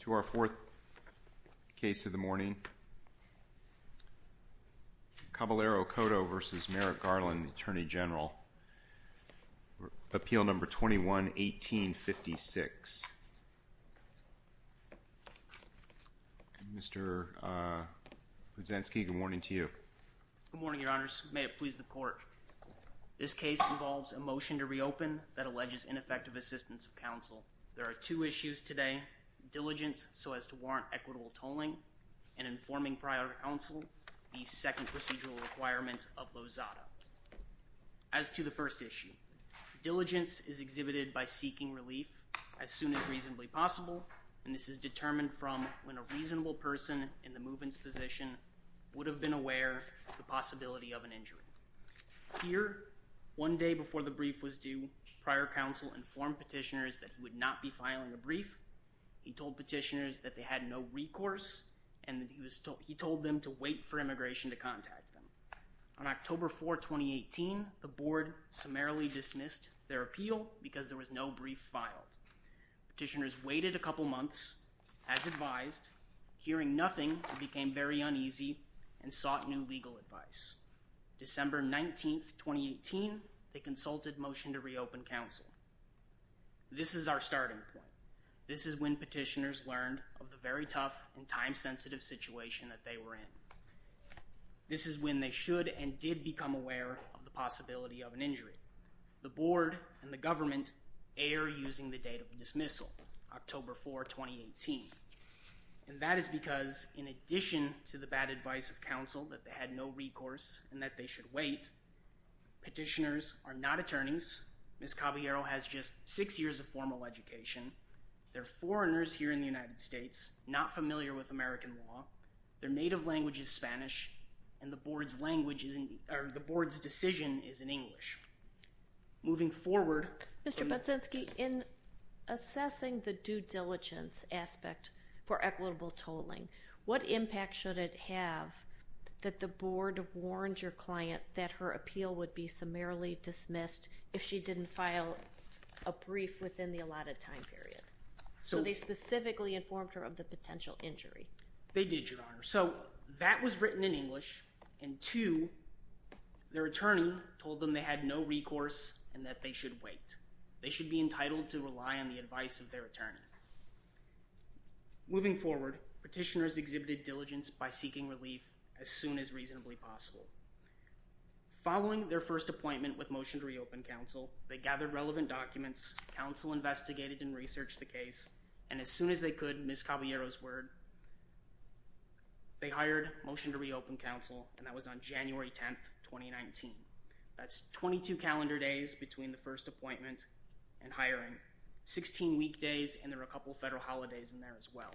To our fourth case of the morning, Caballero-Coto v. Merrick Garland, Attorney General, Appeal No. 21-1856. Mr. Brzezinski, good morning to you. Good morning, Your Honors. May it please the Court, this case involves a motion to reopen that alleges ineffective assistance of counsel. There are two issues today, diligence so as to warrant equitable tolling, and informing prior counsel the second procedural requirement of Lozada. As to the first issue, diligence is exhibited by seeking relief as soon as reasonably possible, and this is determined from when a reasonable person in the move-ins position would have been aware of the possibility of an injury. Here, one day before the brief was due, prior counsel informed petitioners that he would not be filing a brief. He told petitioners that they had no recourse, and that he told them to wait for immigration to contact them. On October 4, 2018, the Board summarily dismissed their appeal because there was no brief filed. Petitioners waited a couple months, as advised. Hearing nothing, it became very uneasy, and sought new legal advice. December 19, 2018, they consulted motion to reopen counsel. This is our starting point. This is when petitioners learned of the very tough and time-sensitive situation that they were in. This is when they should and did become aware of the possibility of an injury. The Board and the government err using the October 4, 2018. And that is because, in addition to the bad advice of counsel, that they had no recourse, and that they should wait, petitioners are not attorneys. Ms. Caballero has just six years of formal education. They're foreigners here in the United States, not familiar with American law. Their native language is Spanish, and the Board's decision is in English. Moving forward... Mr. Pudzinski, in assessing the due diligence aspect for equitable tolling, what impact should it have that the Board warned your client that her appeal would be summarily dismissed if she didn't file a brief within the allotted time period? So they specifically informed her of the potential injury. They did, Your Honor. So, that was written in English, and two, their attorney told them they had no recourse and that they should wait. They should be entitled to rely on the advice of their attorney. Moving forward, petitioners exhibited diligence by seeking relief as soon as reasonably possible. Following their first appointment with motion to reopen counsel, they gathered relevant documents, counsel investigated and researched the case, and as soon as they could, Ms. Caballero's word, they hired motion to reopen counsel, and that was on January 10th, 2019. That's 22 calendar days between the first appointment and hiring, 16 weekdays, and there were a couple of federal holidays in there as well.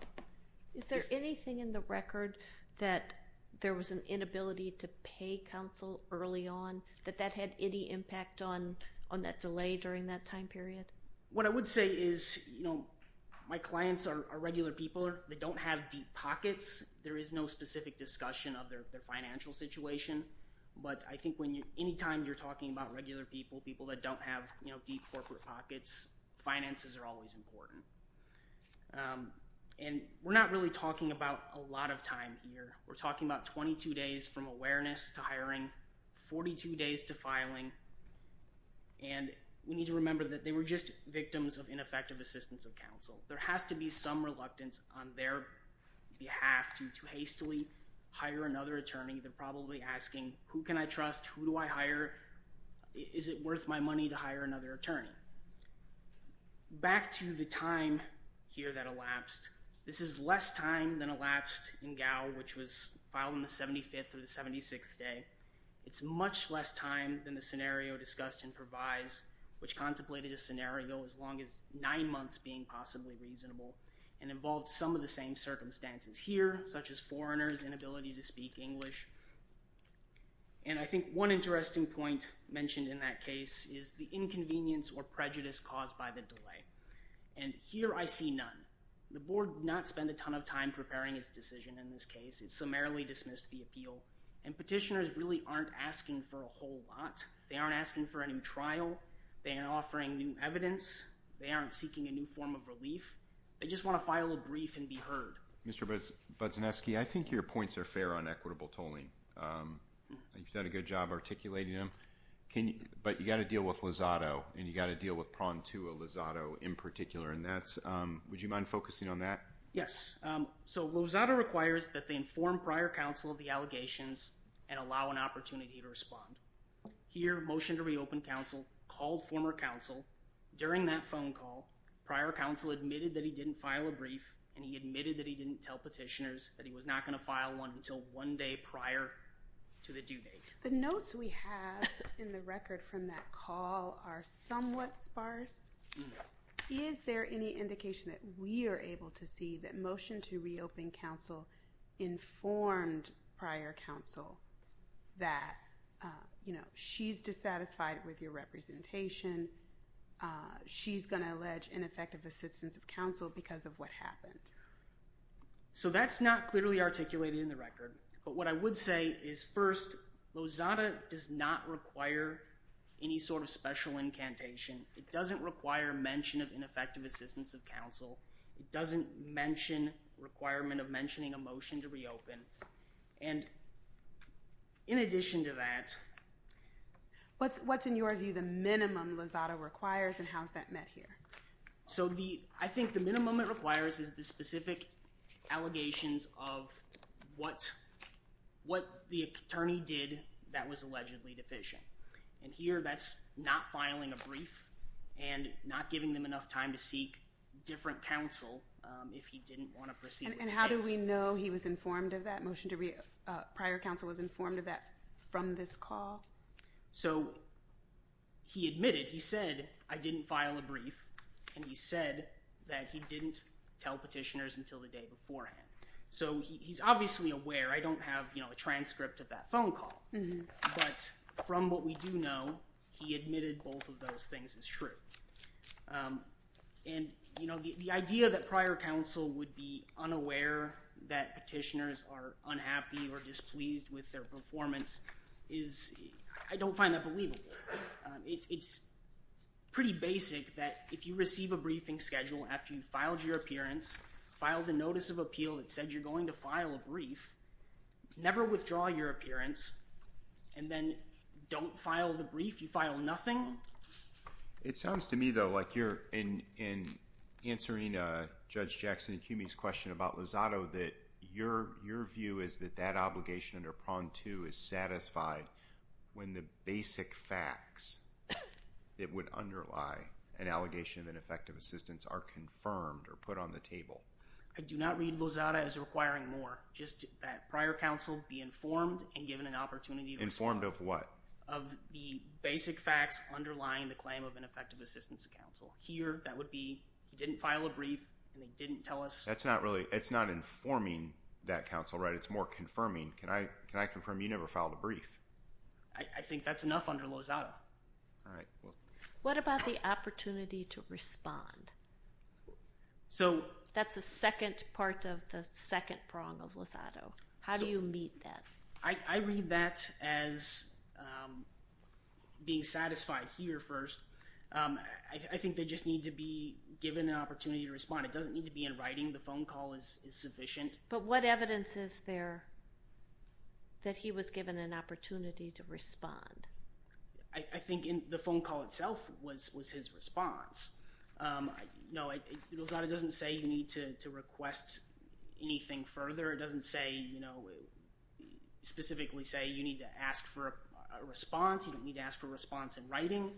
Is there anything in the record that there was an inability to pay counsel early on, that that had any impact on that delay during that time period? What I would say is, you know, my clients are regular people. They don't have deep pockets. There is no specific discussion of their financial situation, but I think when you, anytime you're talking about regular people, people that don't have, you know, deep corporate pockets, finances are always important. And we're not really talking about a lot of time here. We're talking about 22 days from awareness to hiring, 42 days to filing, and we need to remember that they were just victims of ineffective assistance of counsel. There has to be some reluctance on their behalf to hastily hire another attorney. They're probably asking, who can I trust? Who do I hire? Is it worth my money to hire another attorney? Back to the time here that elapsed. This is less time than elapsed in Gao, which was filed on the 75th or the 76th day. It's much less time than the scenario discussed in Provise, which contemplated a scenario as long as nine months being possibly reasonable and involved some of the same circumstances here, such as foreigners' inability to speak English. And I think one interesting point mentioned in that case is the inconvenience or prejudice caused by the delay. And here I see none. The board did not spend a ton of time preparing its decision in this case. It summarily dismissed the appeal. And petitioners really aren't asking for a whole lot. They aren't asking for a new trial. They aren't offering new evidence. They aren't seeking a new form of relief. They just want to file a brief and be heard. Mr. Budzineski, I think your points are fair on equitable tolling. You've done a good job articulating them. But you've got to deal with Lozado, and you've got to deal with pronged to a Lozado in particular. Would you mind focusing on that? Yes. So Lozado requires that they inform prior counsel of the allegations and allow an opportunity to respond. Here, Motion to Reopen counsel called former counsel. During that phone call, prior counsel admitted that he didn't file a brief, and he admitted that he didn't tell petitioners that he was not going to file one until one day prior to the due date. The notes we have in the record from that call are somewhat sparse. Is there any indication that we are able to see that Motion to Reopen counsel informed prior counsel that she's dissatisfied with your representation? She's going to allege ineffective assistance of counsel because of what happened? So that's not clearly articulated in the record. But what I would say is first, Lozado does not require any sort of special incantation. It doesn't require mention of ineffective assistance of counsel. It doesn't requirement of mentioning a Motion to Reopen. And in addition to that... What's in your view the minimum Lozado requires and how's that met here? So I think the minimum it requires is the specific allegations of what the attorney did that was allegedly deficient. And here that's not filing a brief and not giving them enough time to seek different counsel if he didn't want to proceed. And how do we know he was informed of that? Motion to Reopen prior counsel was informed of that from this call? So he admitted, he said, I didn't file a brief and he said that he didn't tell petitioners until the day beforehand. So he's obviously aware. I don't have, you know, a transcript of that phone call. But from what we do know, he admitted both of those things as true. And, you know, the idea that prior counsel would be unaware that petitioners are unhappy or displeased with their performance is... I don't find that believable. It's pretty basic that if you receive a briefing schedule after you filed your appearance, filed a Notice of Appeal that said you're going to file a brief, never withdraw your appearance and then don't file the brief. You file nothing. It sounds to me, though, like you're in answering Judge Jackson and Cumey's question about Lozada that your view is that that obligation under prong two is satisfied when the basic facts that would underlie an allegation of ineffective assistance are confirmed or put on the table. I do not read just that prior counsel be informed and given an opportunity... Informed of what? Of the basic facts underlying the claim of ineffective assistance counsel. Here, that would be, he didn't file a brief and they didn't tell us... That's not really... It's not informing that counsel, right? It's more confirming. Can I confirm you never filed a brief? I think that's enough under Lozada. All right. What about the Lozada? How do you meet that? I read that as being satisfied here first. I think they just need to be given an opportunity to respond. It doesn't need to be in writing. The phone call is sufficient. But what evidence is there that he was given an opportunity to respond? I think in the phone call itself was his response. No, Lozada doesn't say you need to request anything further. It doesn't specifically say you need to ask for a response. You don't need to ask for a response in writing.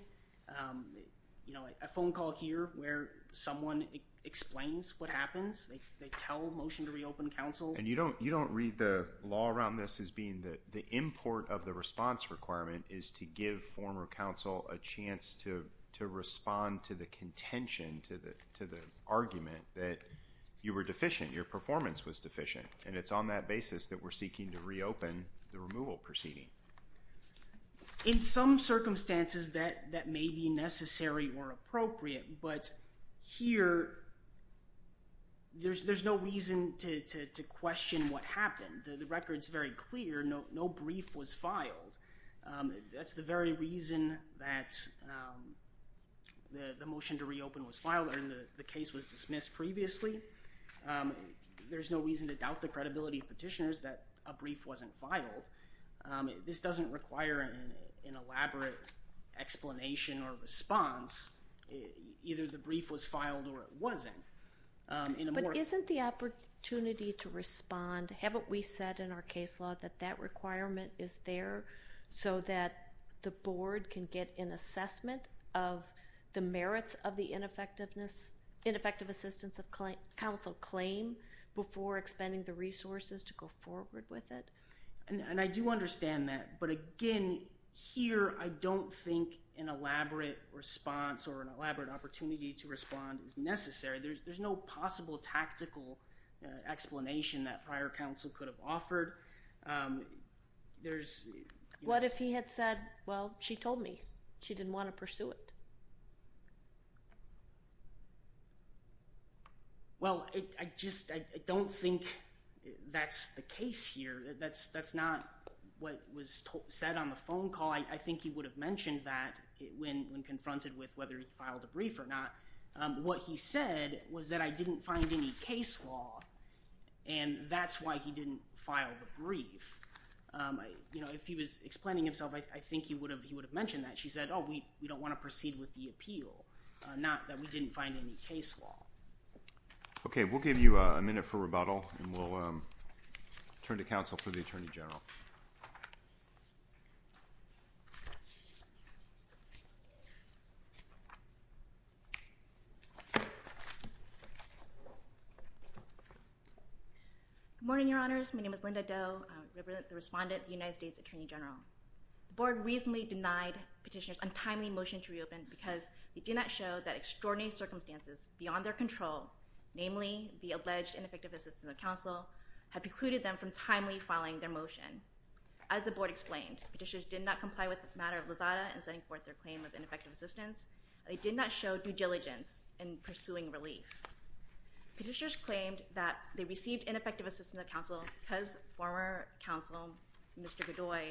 A phone call here where someone explains what happens, they tell motion to reopen counsel... And you don't read the law around this as being the import of the response requirement is to give former counsel a chance to respond to the contention, to the argument that you were deficient, your performance was deficient. And it's on that basis that we're seeking to reopen the removal proceeding. In some circumstances that may be necessary or appropriate, but here there's no reason to question what happened. The record's very clear. No brief was filed. That's the very reason that the motion to reopen was filed or the case was dismissed previously. There's no reason to doubt the credibility of petitioners that a brief wasn't filed. This doesn't require an elaborate explanation or response. Either the brief was filed or it wasn't. But isn't the opportunity to respond, haven't we said in our case law that that requirement is there so that the board can get an assessment of the merits of the ineffective assistance of counsel claim before expending the resources to go forward with it? And I do understand that, but again, here I don't think an elaborate response or an elaborate opportunity to respond is necessary. There's no possible tactical explanation that prior counsel could have offered. What if he had said, well, she told me she didn't want to pursue it? Well, I just don't think that's the case here. That's not what was said on the phone call. I think he would have What he said was that I didn't find any case law and that's why he didn't file the brief. If he was explaining himself, I think he would have mentioned that. She said, oh, we don't want to proceed with the appeal. Not that we didn't find any case law. Okay, we'll give you a minute for rebuttal and we'll turn to counsel for the Attorney General. Good morning, Your Honors. My name is Linda Doe. I represent the respondent, the United States Attorney General. The board reasonably denied petitioners' untimely motion to reopen because they did not show that extraordinary circumstances beyond their control, namely the alleged ineffective assistance of counsel, had precluded them from timely filing their motion. As the board explained, petitioners did not comply with the matter of Lozada in setting forth their claim of ineffective assistance. They did not show due diligence in pursuing relief. Petitioners claimed that they received ineffective assistance of counsel because former counsel, Mr. Godoy,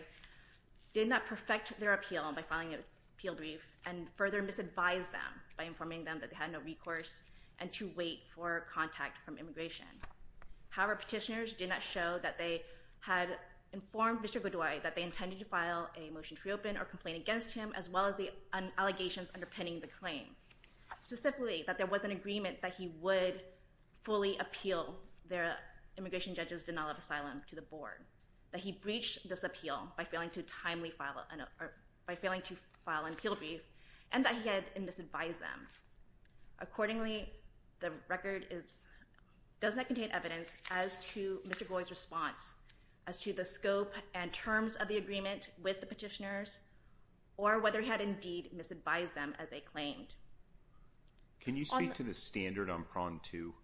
did not perfect their appeal by filing an appeal brief and further misadvised them by informing them that they had no recourse and to wait for contact from immigration. However, petitioners did not show that they had to file a motion to reopen or complain against him as well as the allegations underpinning the claim. Specifically, that there was an agreement that he would fully appeal their immigration judge's denial of asylum to the board, that he breached this appeal by failing to file an appeal brief and that he had misadvised them. Accordingly, the record does not contain evidence as to Mr. Godoy's response, as to the scope and terms of the agreement with the petitioners or whether he had indeed misadvised them as they claimed. Can you speak to the standard on prong two,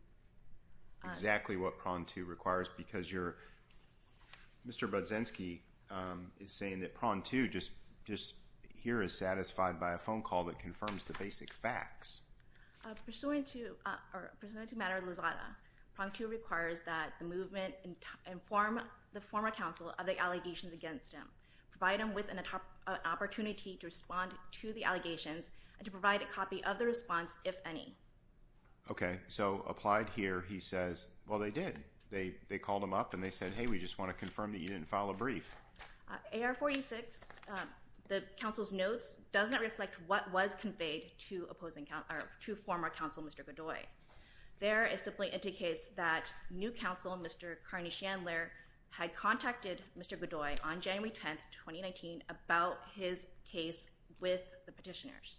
exactly what prong two requires because Mr. Budzinski is saying that prong two just here is satisfied by a phone call that confirms the basic facts. Pursuant to matter of Lizada, prong two requires that the movement inform the former council of the allegations against him, provide him with an opportunity to respond to the allegations and to provide a copy of the response, if any. Okay, so applied here, he says, well they did. They called him up and they said, hey, we just want to confirm that you didn't file a brief. AR 46, the council's notes does not reflect what was conveyed to former council Mr. Godoy. There it simply indicates that new council Mr. Carney-Shandler had contacted Mr. Godoy on January 10th, 2019 about his case with the petitioners.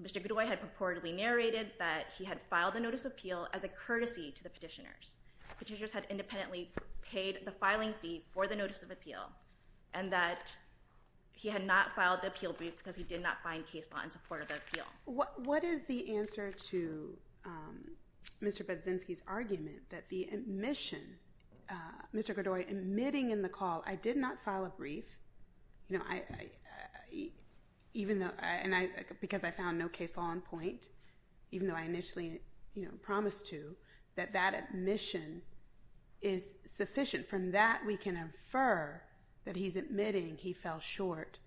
Mr. Godoy had purportedly narrated that he had filed a notice of appeal as a courtesy to the petitioners. Petitioners had independently paid the filing fee for the notice of appeal and that he had not filed the appeal brief because he did not find case law in support of the appeal. What is the answer to Mr. Budzinski's argument that the admission, Mr. Godoy admitting in the call, I did not file a brief, you know, I, even though, and I, because I found no case law on point, even though I initially, you know, promised to, that that admission is sufficient. From that we can infer that he's admitting he fell short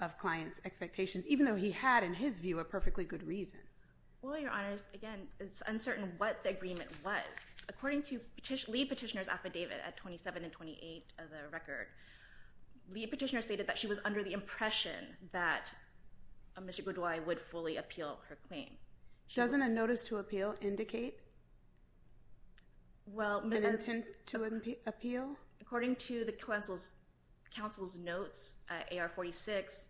of clients' expectations, even though he had, in his view, a perfectly good reason. Well, Your Honors, again, it's uncertain what the agreement was. According to lead petitioner's affidavit at 27 and 28 of the record, lead petitioner stated that she was under the impression that Mr. Godoy would fully appeal her claim. Doesn't a notice to appeal indicate an intent to appeal? According to the counsel's notes, AR 46,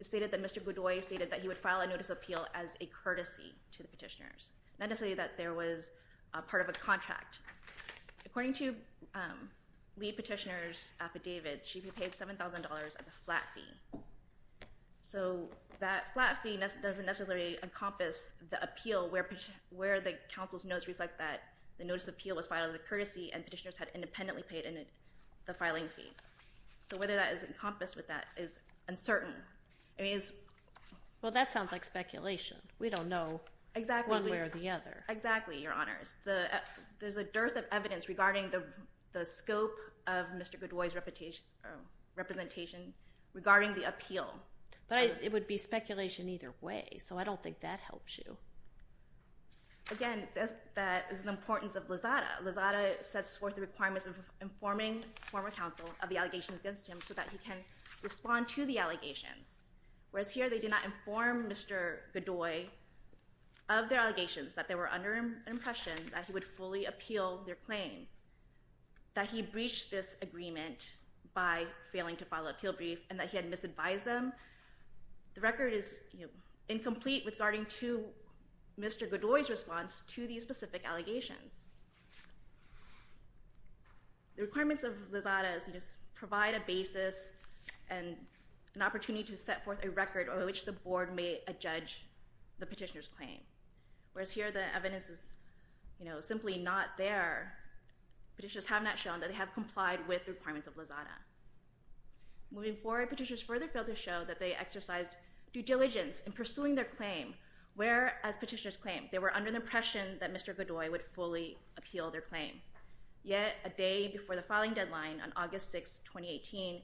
stated that Mr. Godoy stated that he would file a notice of appeal as a courtesy to the petitioners. Not to say that there was a part of a contract. According to lead petitioner's affidavit, she'd be paid $7,000 as a flat fee. So that flat fee doesn't necessarily encompass the appeal where the counsel's notes reflect that the notice of appeal was filed as a courtesy and petitioners had independently paid the filing fee. So whether that is encompassed with that is uncertain. Well, that sounds like speculation. We don't know one way or the other. Exactly, Your Honors. There's a dearth of evidence regarding the scope of Mr. Godoy's representation regarding the appeal. But it would be speculation either way, so I don't think that helps you. Again, that is the importance of Lozada. Lozada sets forth the requirements of informing former counsel of the allegations against him so that he can respond to the allegations. Whereas here, they did not inform Mr. Godoy of their allegations, that they were under an impression that he would fully appeal their claim, that he breached this agreement by failing to file a appeal brief, and that he had misadvised them. The record is incomplete regarding Mr. Godoy's response to these specific allegations. The requirements of Lozada provide a basis and an opportunity to set forth a record on which the Board may adjudge the petitioner's claim. Whereas here, the evidence is simply not there. Petitioners have not shown that they have complied with the requirements of Lozada. Moving forward, petitioners further failed to show that they exercised due diligence in pursuing their claim, whereas petitioners claimed they were under the impression that Mr. Godoy would fully appeal their claim. Yet, a day before the filing deadline on August 6, 2018,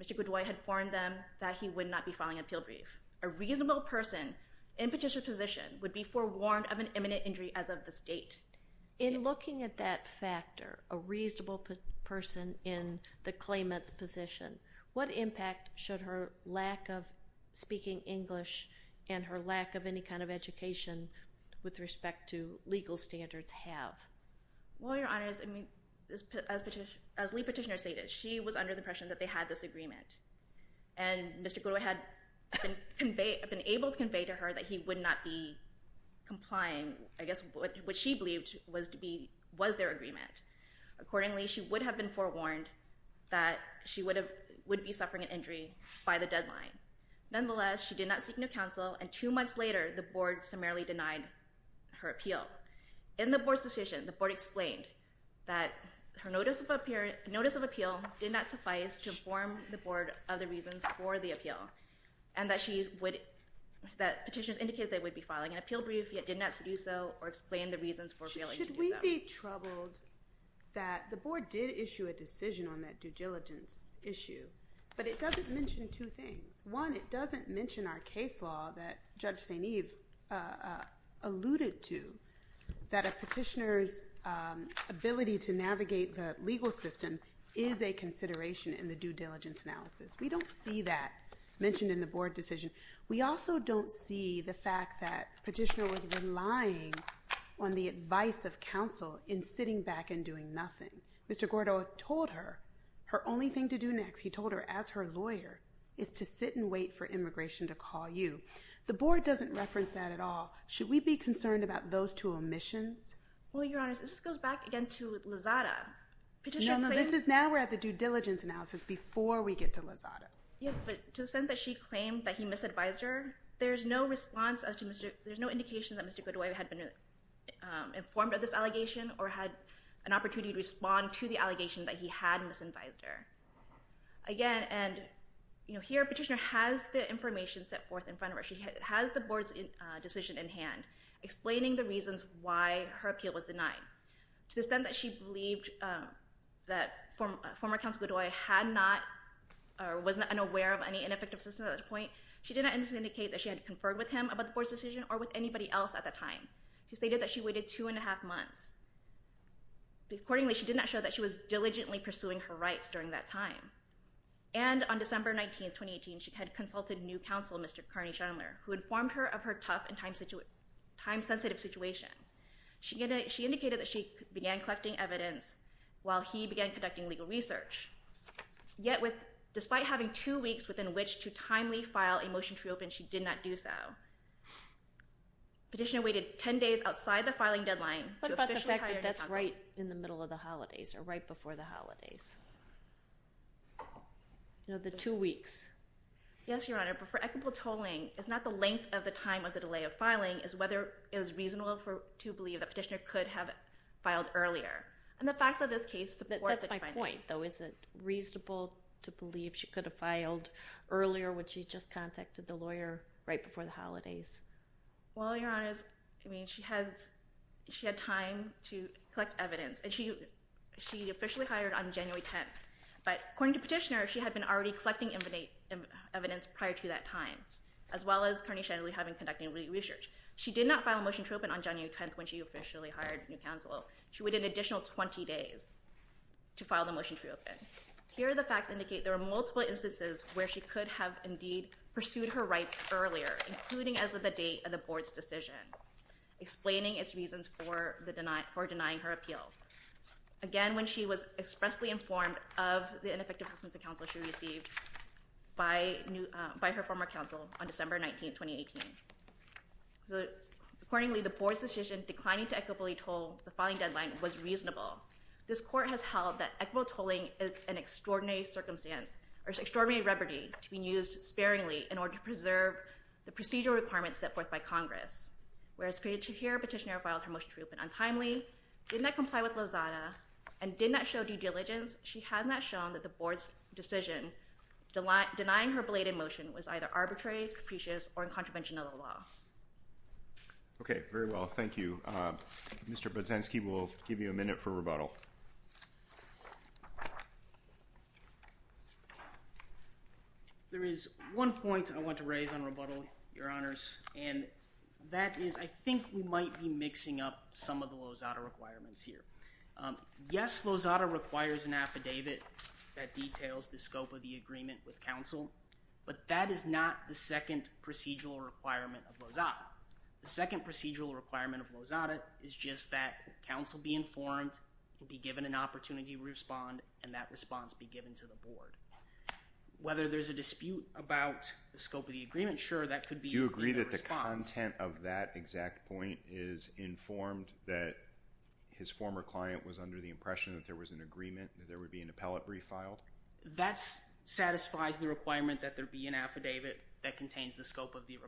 Mr. Godoy had informed them that he would not be filing an appeal brief. A reasonable person in petitioner's position would be forewarned of an imminent injury as of this date. In looking at that factor, a reasonable person in the claimant's position, what impact should her lack of speaking English and her lack of any kind of education with respect to legal standards have? Well, Your Honors, as lead petitioner stated, she was under the impression that they had this agreement. And Mr. Godoy had been able to convey to her that he would not be complying. I guess what she believed was their agreement. Accordingly, she would have been forewarned that she would be suffering an injury by the deadline. Nonetheless, she did not seek new counsel, and two months later, the Board summarily denied her appeal. In the Board's decision, the Board explained that her notice of appeal did not suffice to inform the Board of the reasons for the appeal and that petitioners indicated they would be filing an appeal brief yet did not do so or explain the reasons for failing to do so. Should we be troubled that the Board did issue a decision on that due diligence issue, but it doesn't mention two things. One, it doesn't mention our case law that Judge St. Eve alluded to, that a petitioner's ability to navigate the legal system is a consideration in the due diligence analysis. We don't see that mentioned in the Board decision. We also don't see the fact that a petitioner was relying on the advice of counsel in sitting back and doing nothing. Mr. Godoy told her, her only thing to do next, he told her as her lawyer, is to sit and wait for immigration to call you. The Board doesn't reference that at all. Should we be concerned about those two omissions? Well, Your Honor, this goes back again to Lozada. No, no, this is now we're at the due diligence analysis before we get to Lozada. Yes, but to the extent that she claimed that he misadvised her, there's no response, there's no indication that Mr. Godoy had been informed of this allegation or had an opportunity to respond to the allegation that he had misadvised her. Again, and, you know, here a petitioner has the information set forth in front of her, she has the Board's decision in hand, explaining the reasons why her appeal was denied. To the extent that she believed that former counsel Godoy had not or was unaware of any ineffective system at that point, she did not indicate that she had conferred with him about the Board's decision or with anybody else at that time. She stated that she waited two and a half months. Accordingly, she did not show that she was diligently pursuing her rights during that time. And on December 19, 2018, she had consulted new counsel, Mr. Carney-Schindler, who informed her of her tough and time-sensitive situation. She indicated that she began collecting evidence while he began conducting legal research. Yet, despite having two weeks within which to timely file a motion to reopen, she did not do so. Petitioner waited 10 days outside the filing deadline. What about the fact that that's right in the middle of the holidays or right before the holidays? You know, the two weeks. Yes, Your Honor, but for equitable tolling, it's not the length of the time of the delay of filing, it's whether it was reasonable to believe that Petitioner could have filed earlier. And the facts of this case support this finding. That's my point, though. Is it reasonable to believe she could have filed earlier when she just contacted the lawyer right before the holidays? Well, Your Honor, I mean, she had time to collect evidence. And she officially hired on January 10th. But according to Petitioner, she had been already collecting evidence prior to that time, as well as Carney-Shindler having conducted research. She did not file a motion to reopen on January 10th when she officially hired new counsel. She waited an additional 20 days to file the motion to reopen. Here, the facts indicate there were multiple instances where she could have indeed pursued her rights earlier, including as of the date of the Board's decision, explaining its reasons for denying her appeal. Again, when she was expressly informed of the ineffective assistance of counsel she received by her former counsel on December 19th, 2018. Accordingly, the Board's decision declining to equitably toll the filing deadline was reasonable. This Court has held that equitable tolling is an extraordinary circumstance, or an extraordinary remedy to be used sparingly in order to preserve the procedural requirements set forth by Congress. Whereas Petitioner filed her motion to reopen untimely, did not comply with Lozada, and did not show due diligence, she has not shown that the Board's decision denying her belated motion was either arbitrary, capricious, or in contravention of the law. Okay, very well. Thank you. Mr. Budzinski will give you a minute for rebuttal. There is one point I want to raise on rebuttal, Your Honors, and that is I think we might be mixing up some of the Lozada requirements here. Yes, Lozada requires an affidavit that details the scope of the agreement with counsel, but that is not the second procedural requirement of Lozada. The second procedural requirement of Lozada is just that counsel be informed, be given an opportunity to respond, and that response be given to the Board. Whether there's a dispute about the scope of the agreement, sure, that could be Do you agree that the content of that exact point is informed that his former client was under the impression that there was an agreement that there would be an appellate brief filed? That satisfies the requirement that there be an affidavit that contains the scope of the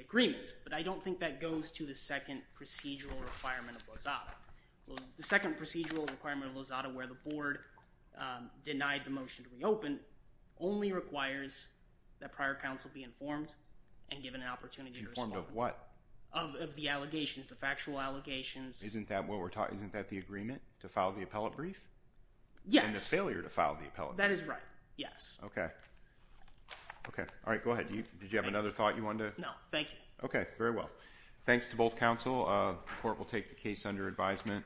agreement, but I don't think that goes to the second procedural requirement of Lozada. The second procedural requirement of Lozada where the Board denied the motion to reopen only requires that prior counsel be informed and given an opportunity to respond. Informed of what? Of the allegations, the factual allegations. Isn't that what we're talking, isn't that the agreement to file the appellate brief? Yes. And the failure to file the appellate brief? That is right, yes. Okay. Okay, all right, go ahead. Did you have another thought you wanted to? No, thank you. Okay, very well. Thanks to both counsel. The Court will take the case under advisement.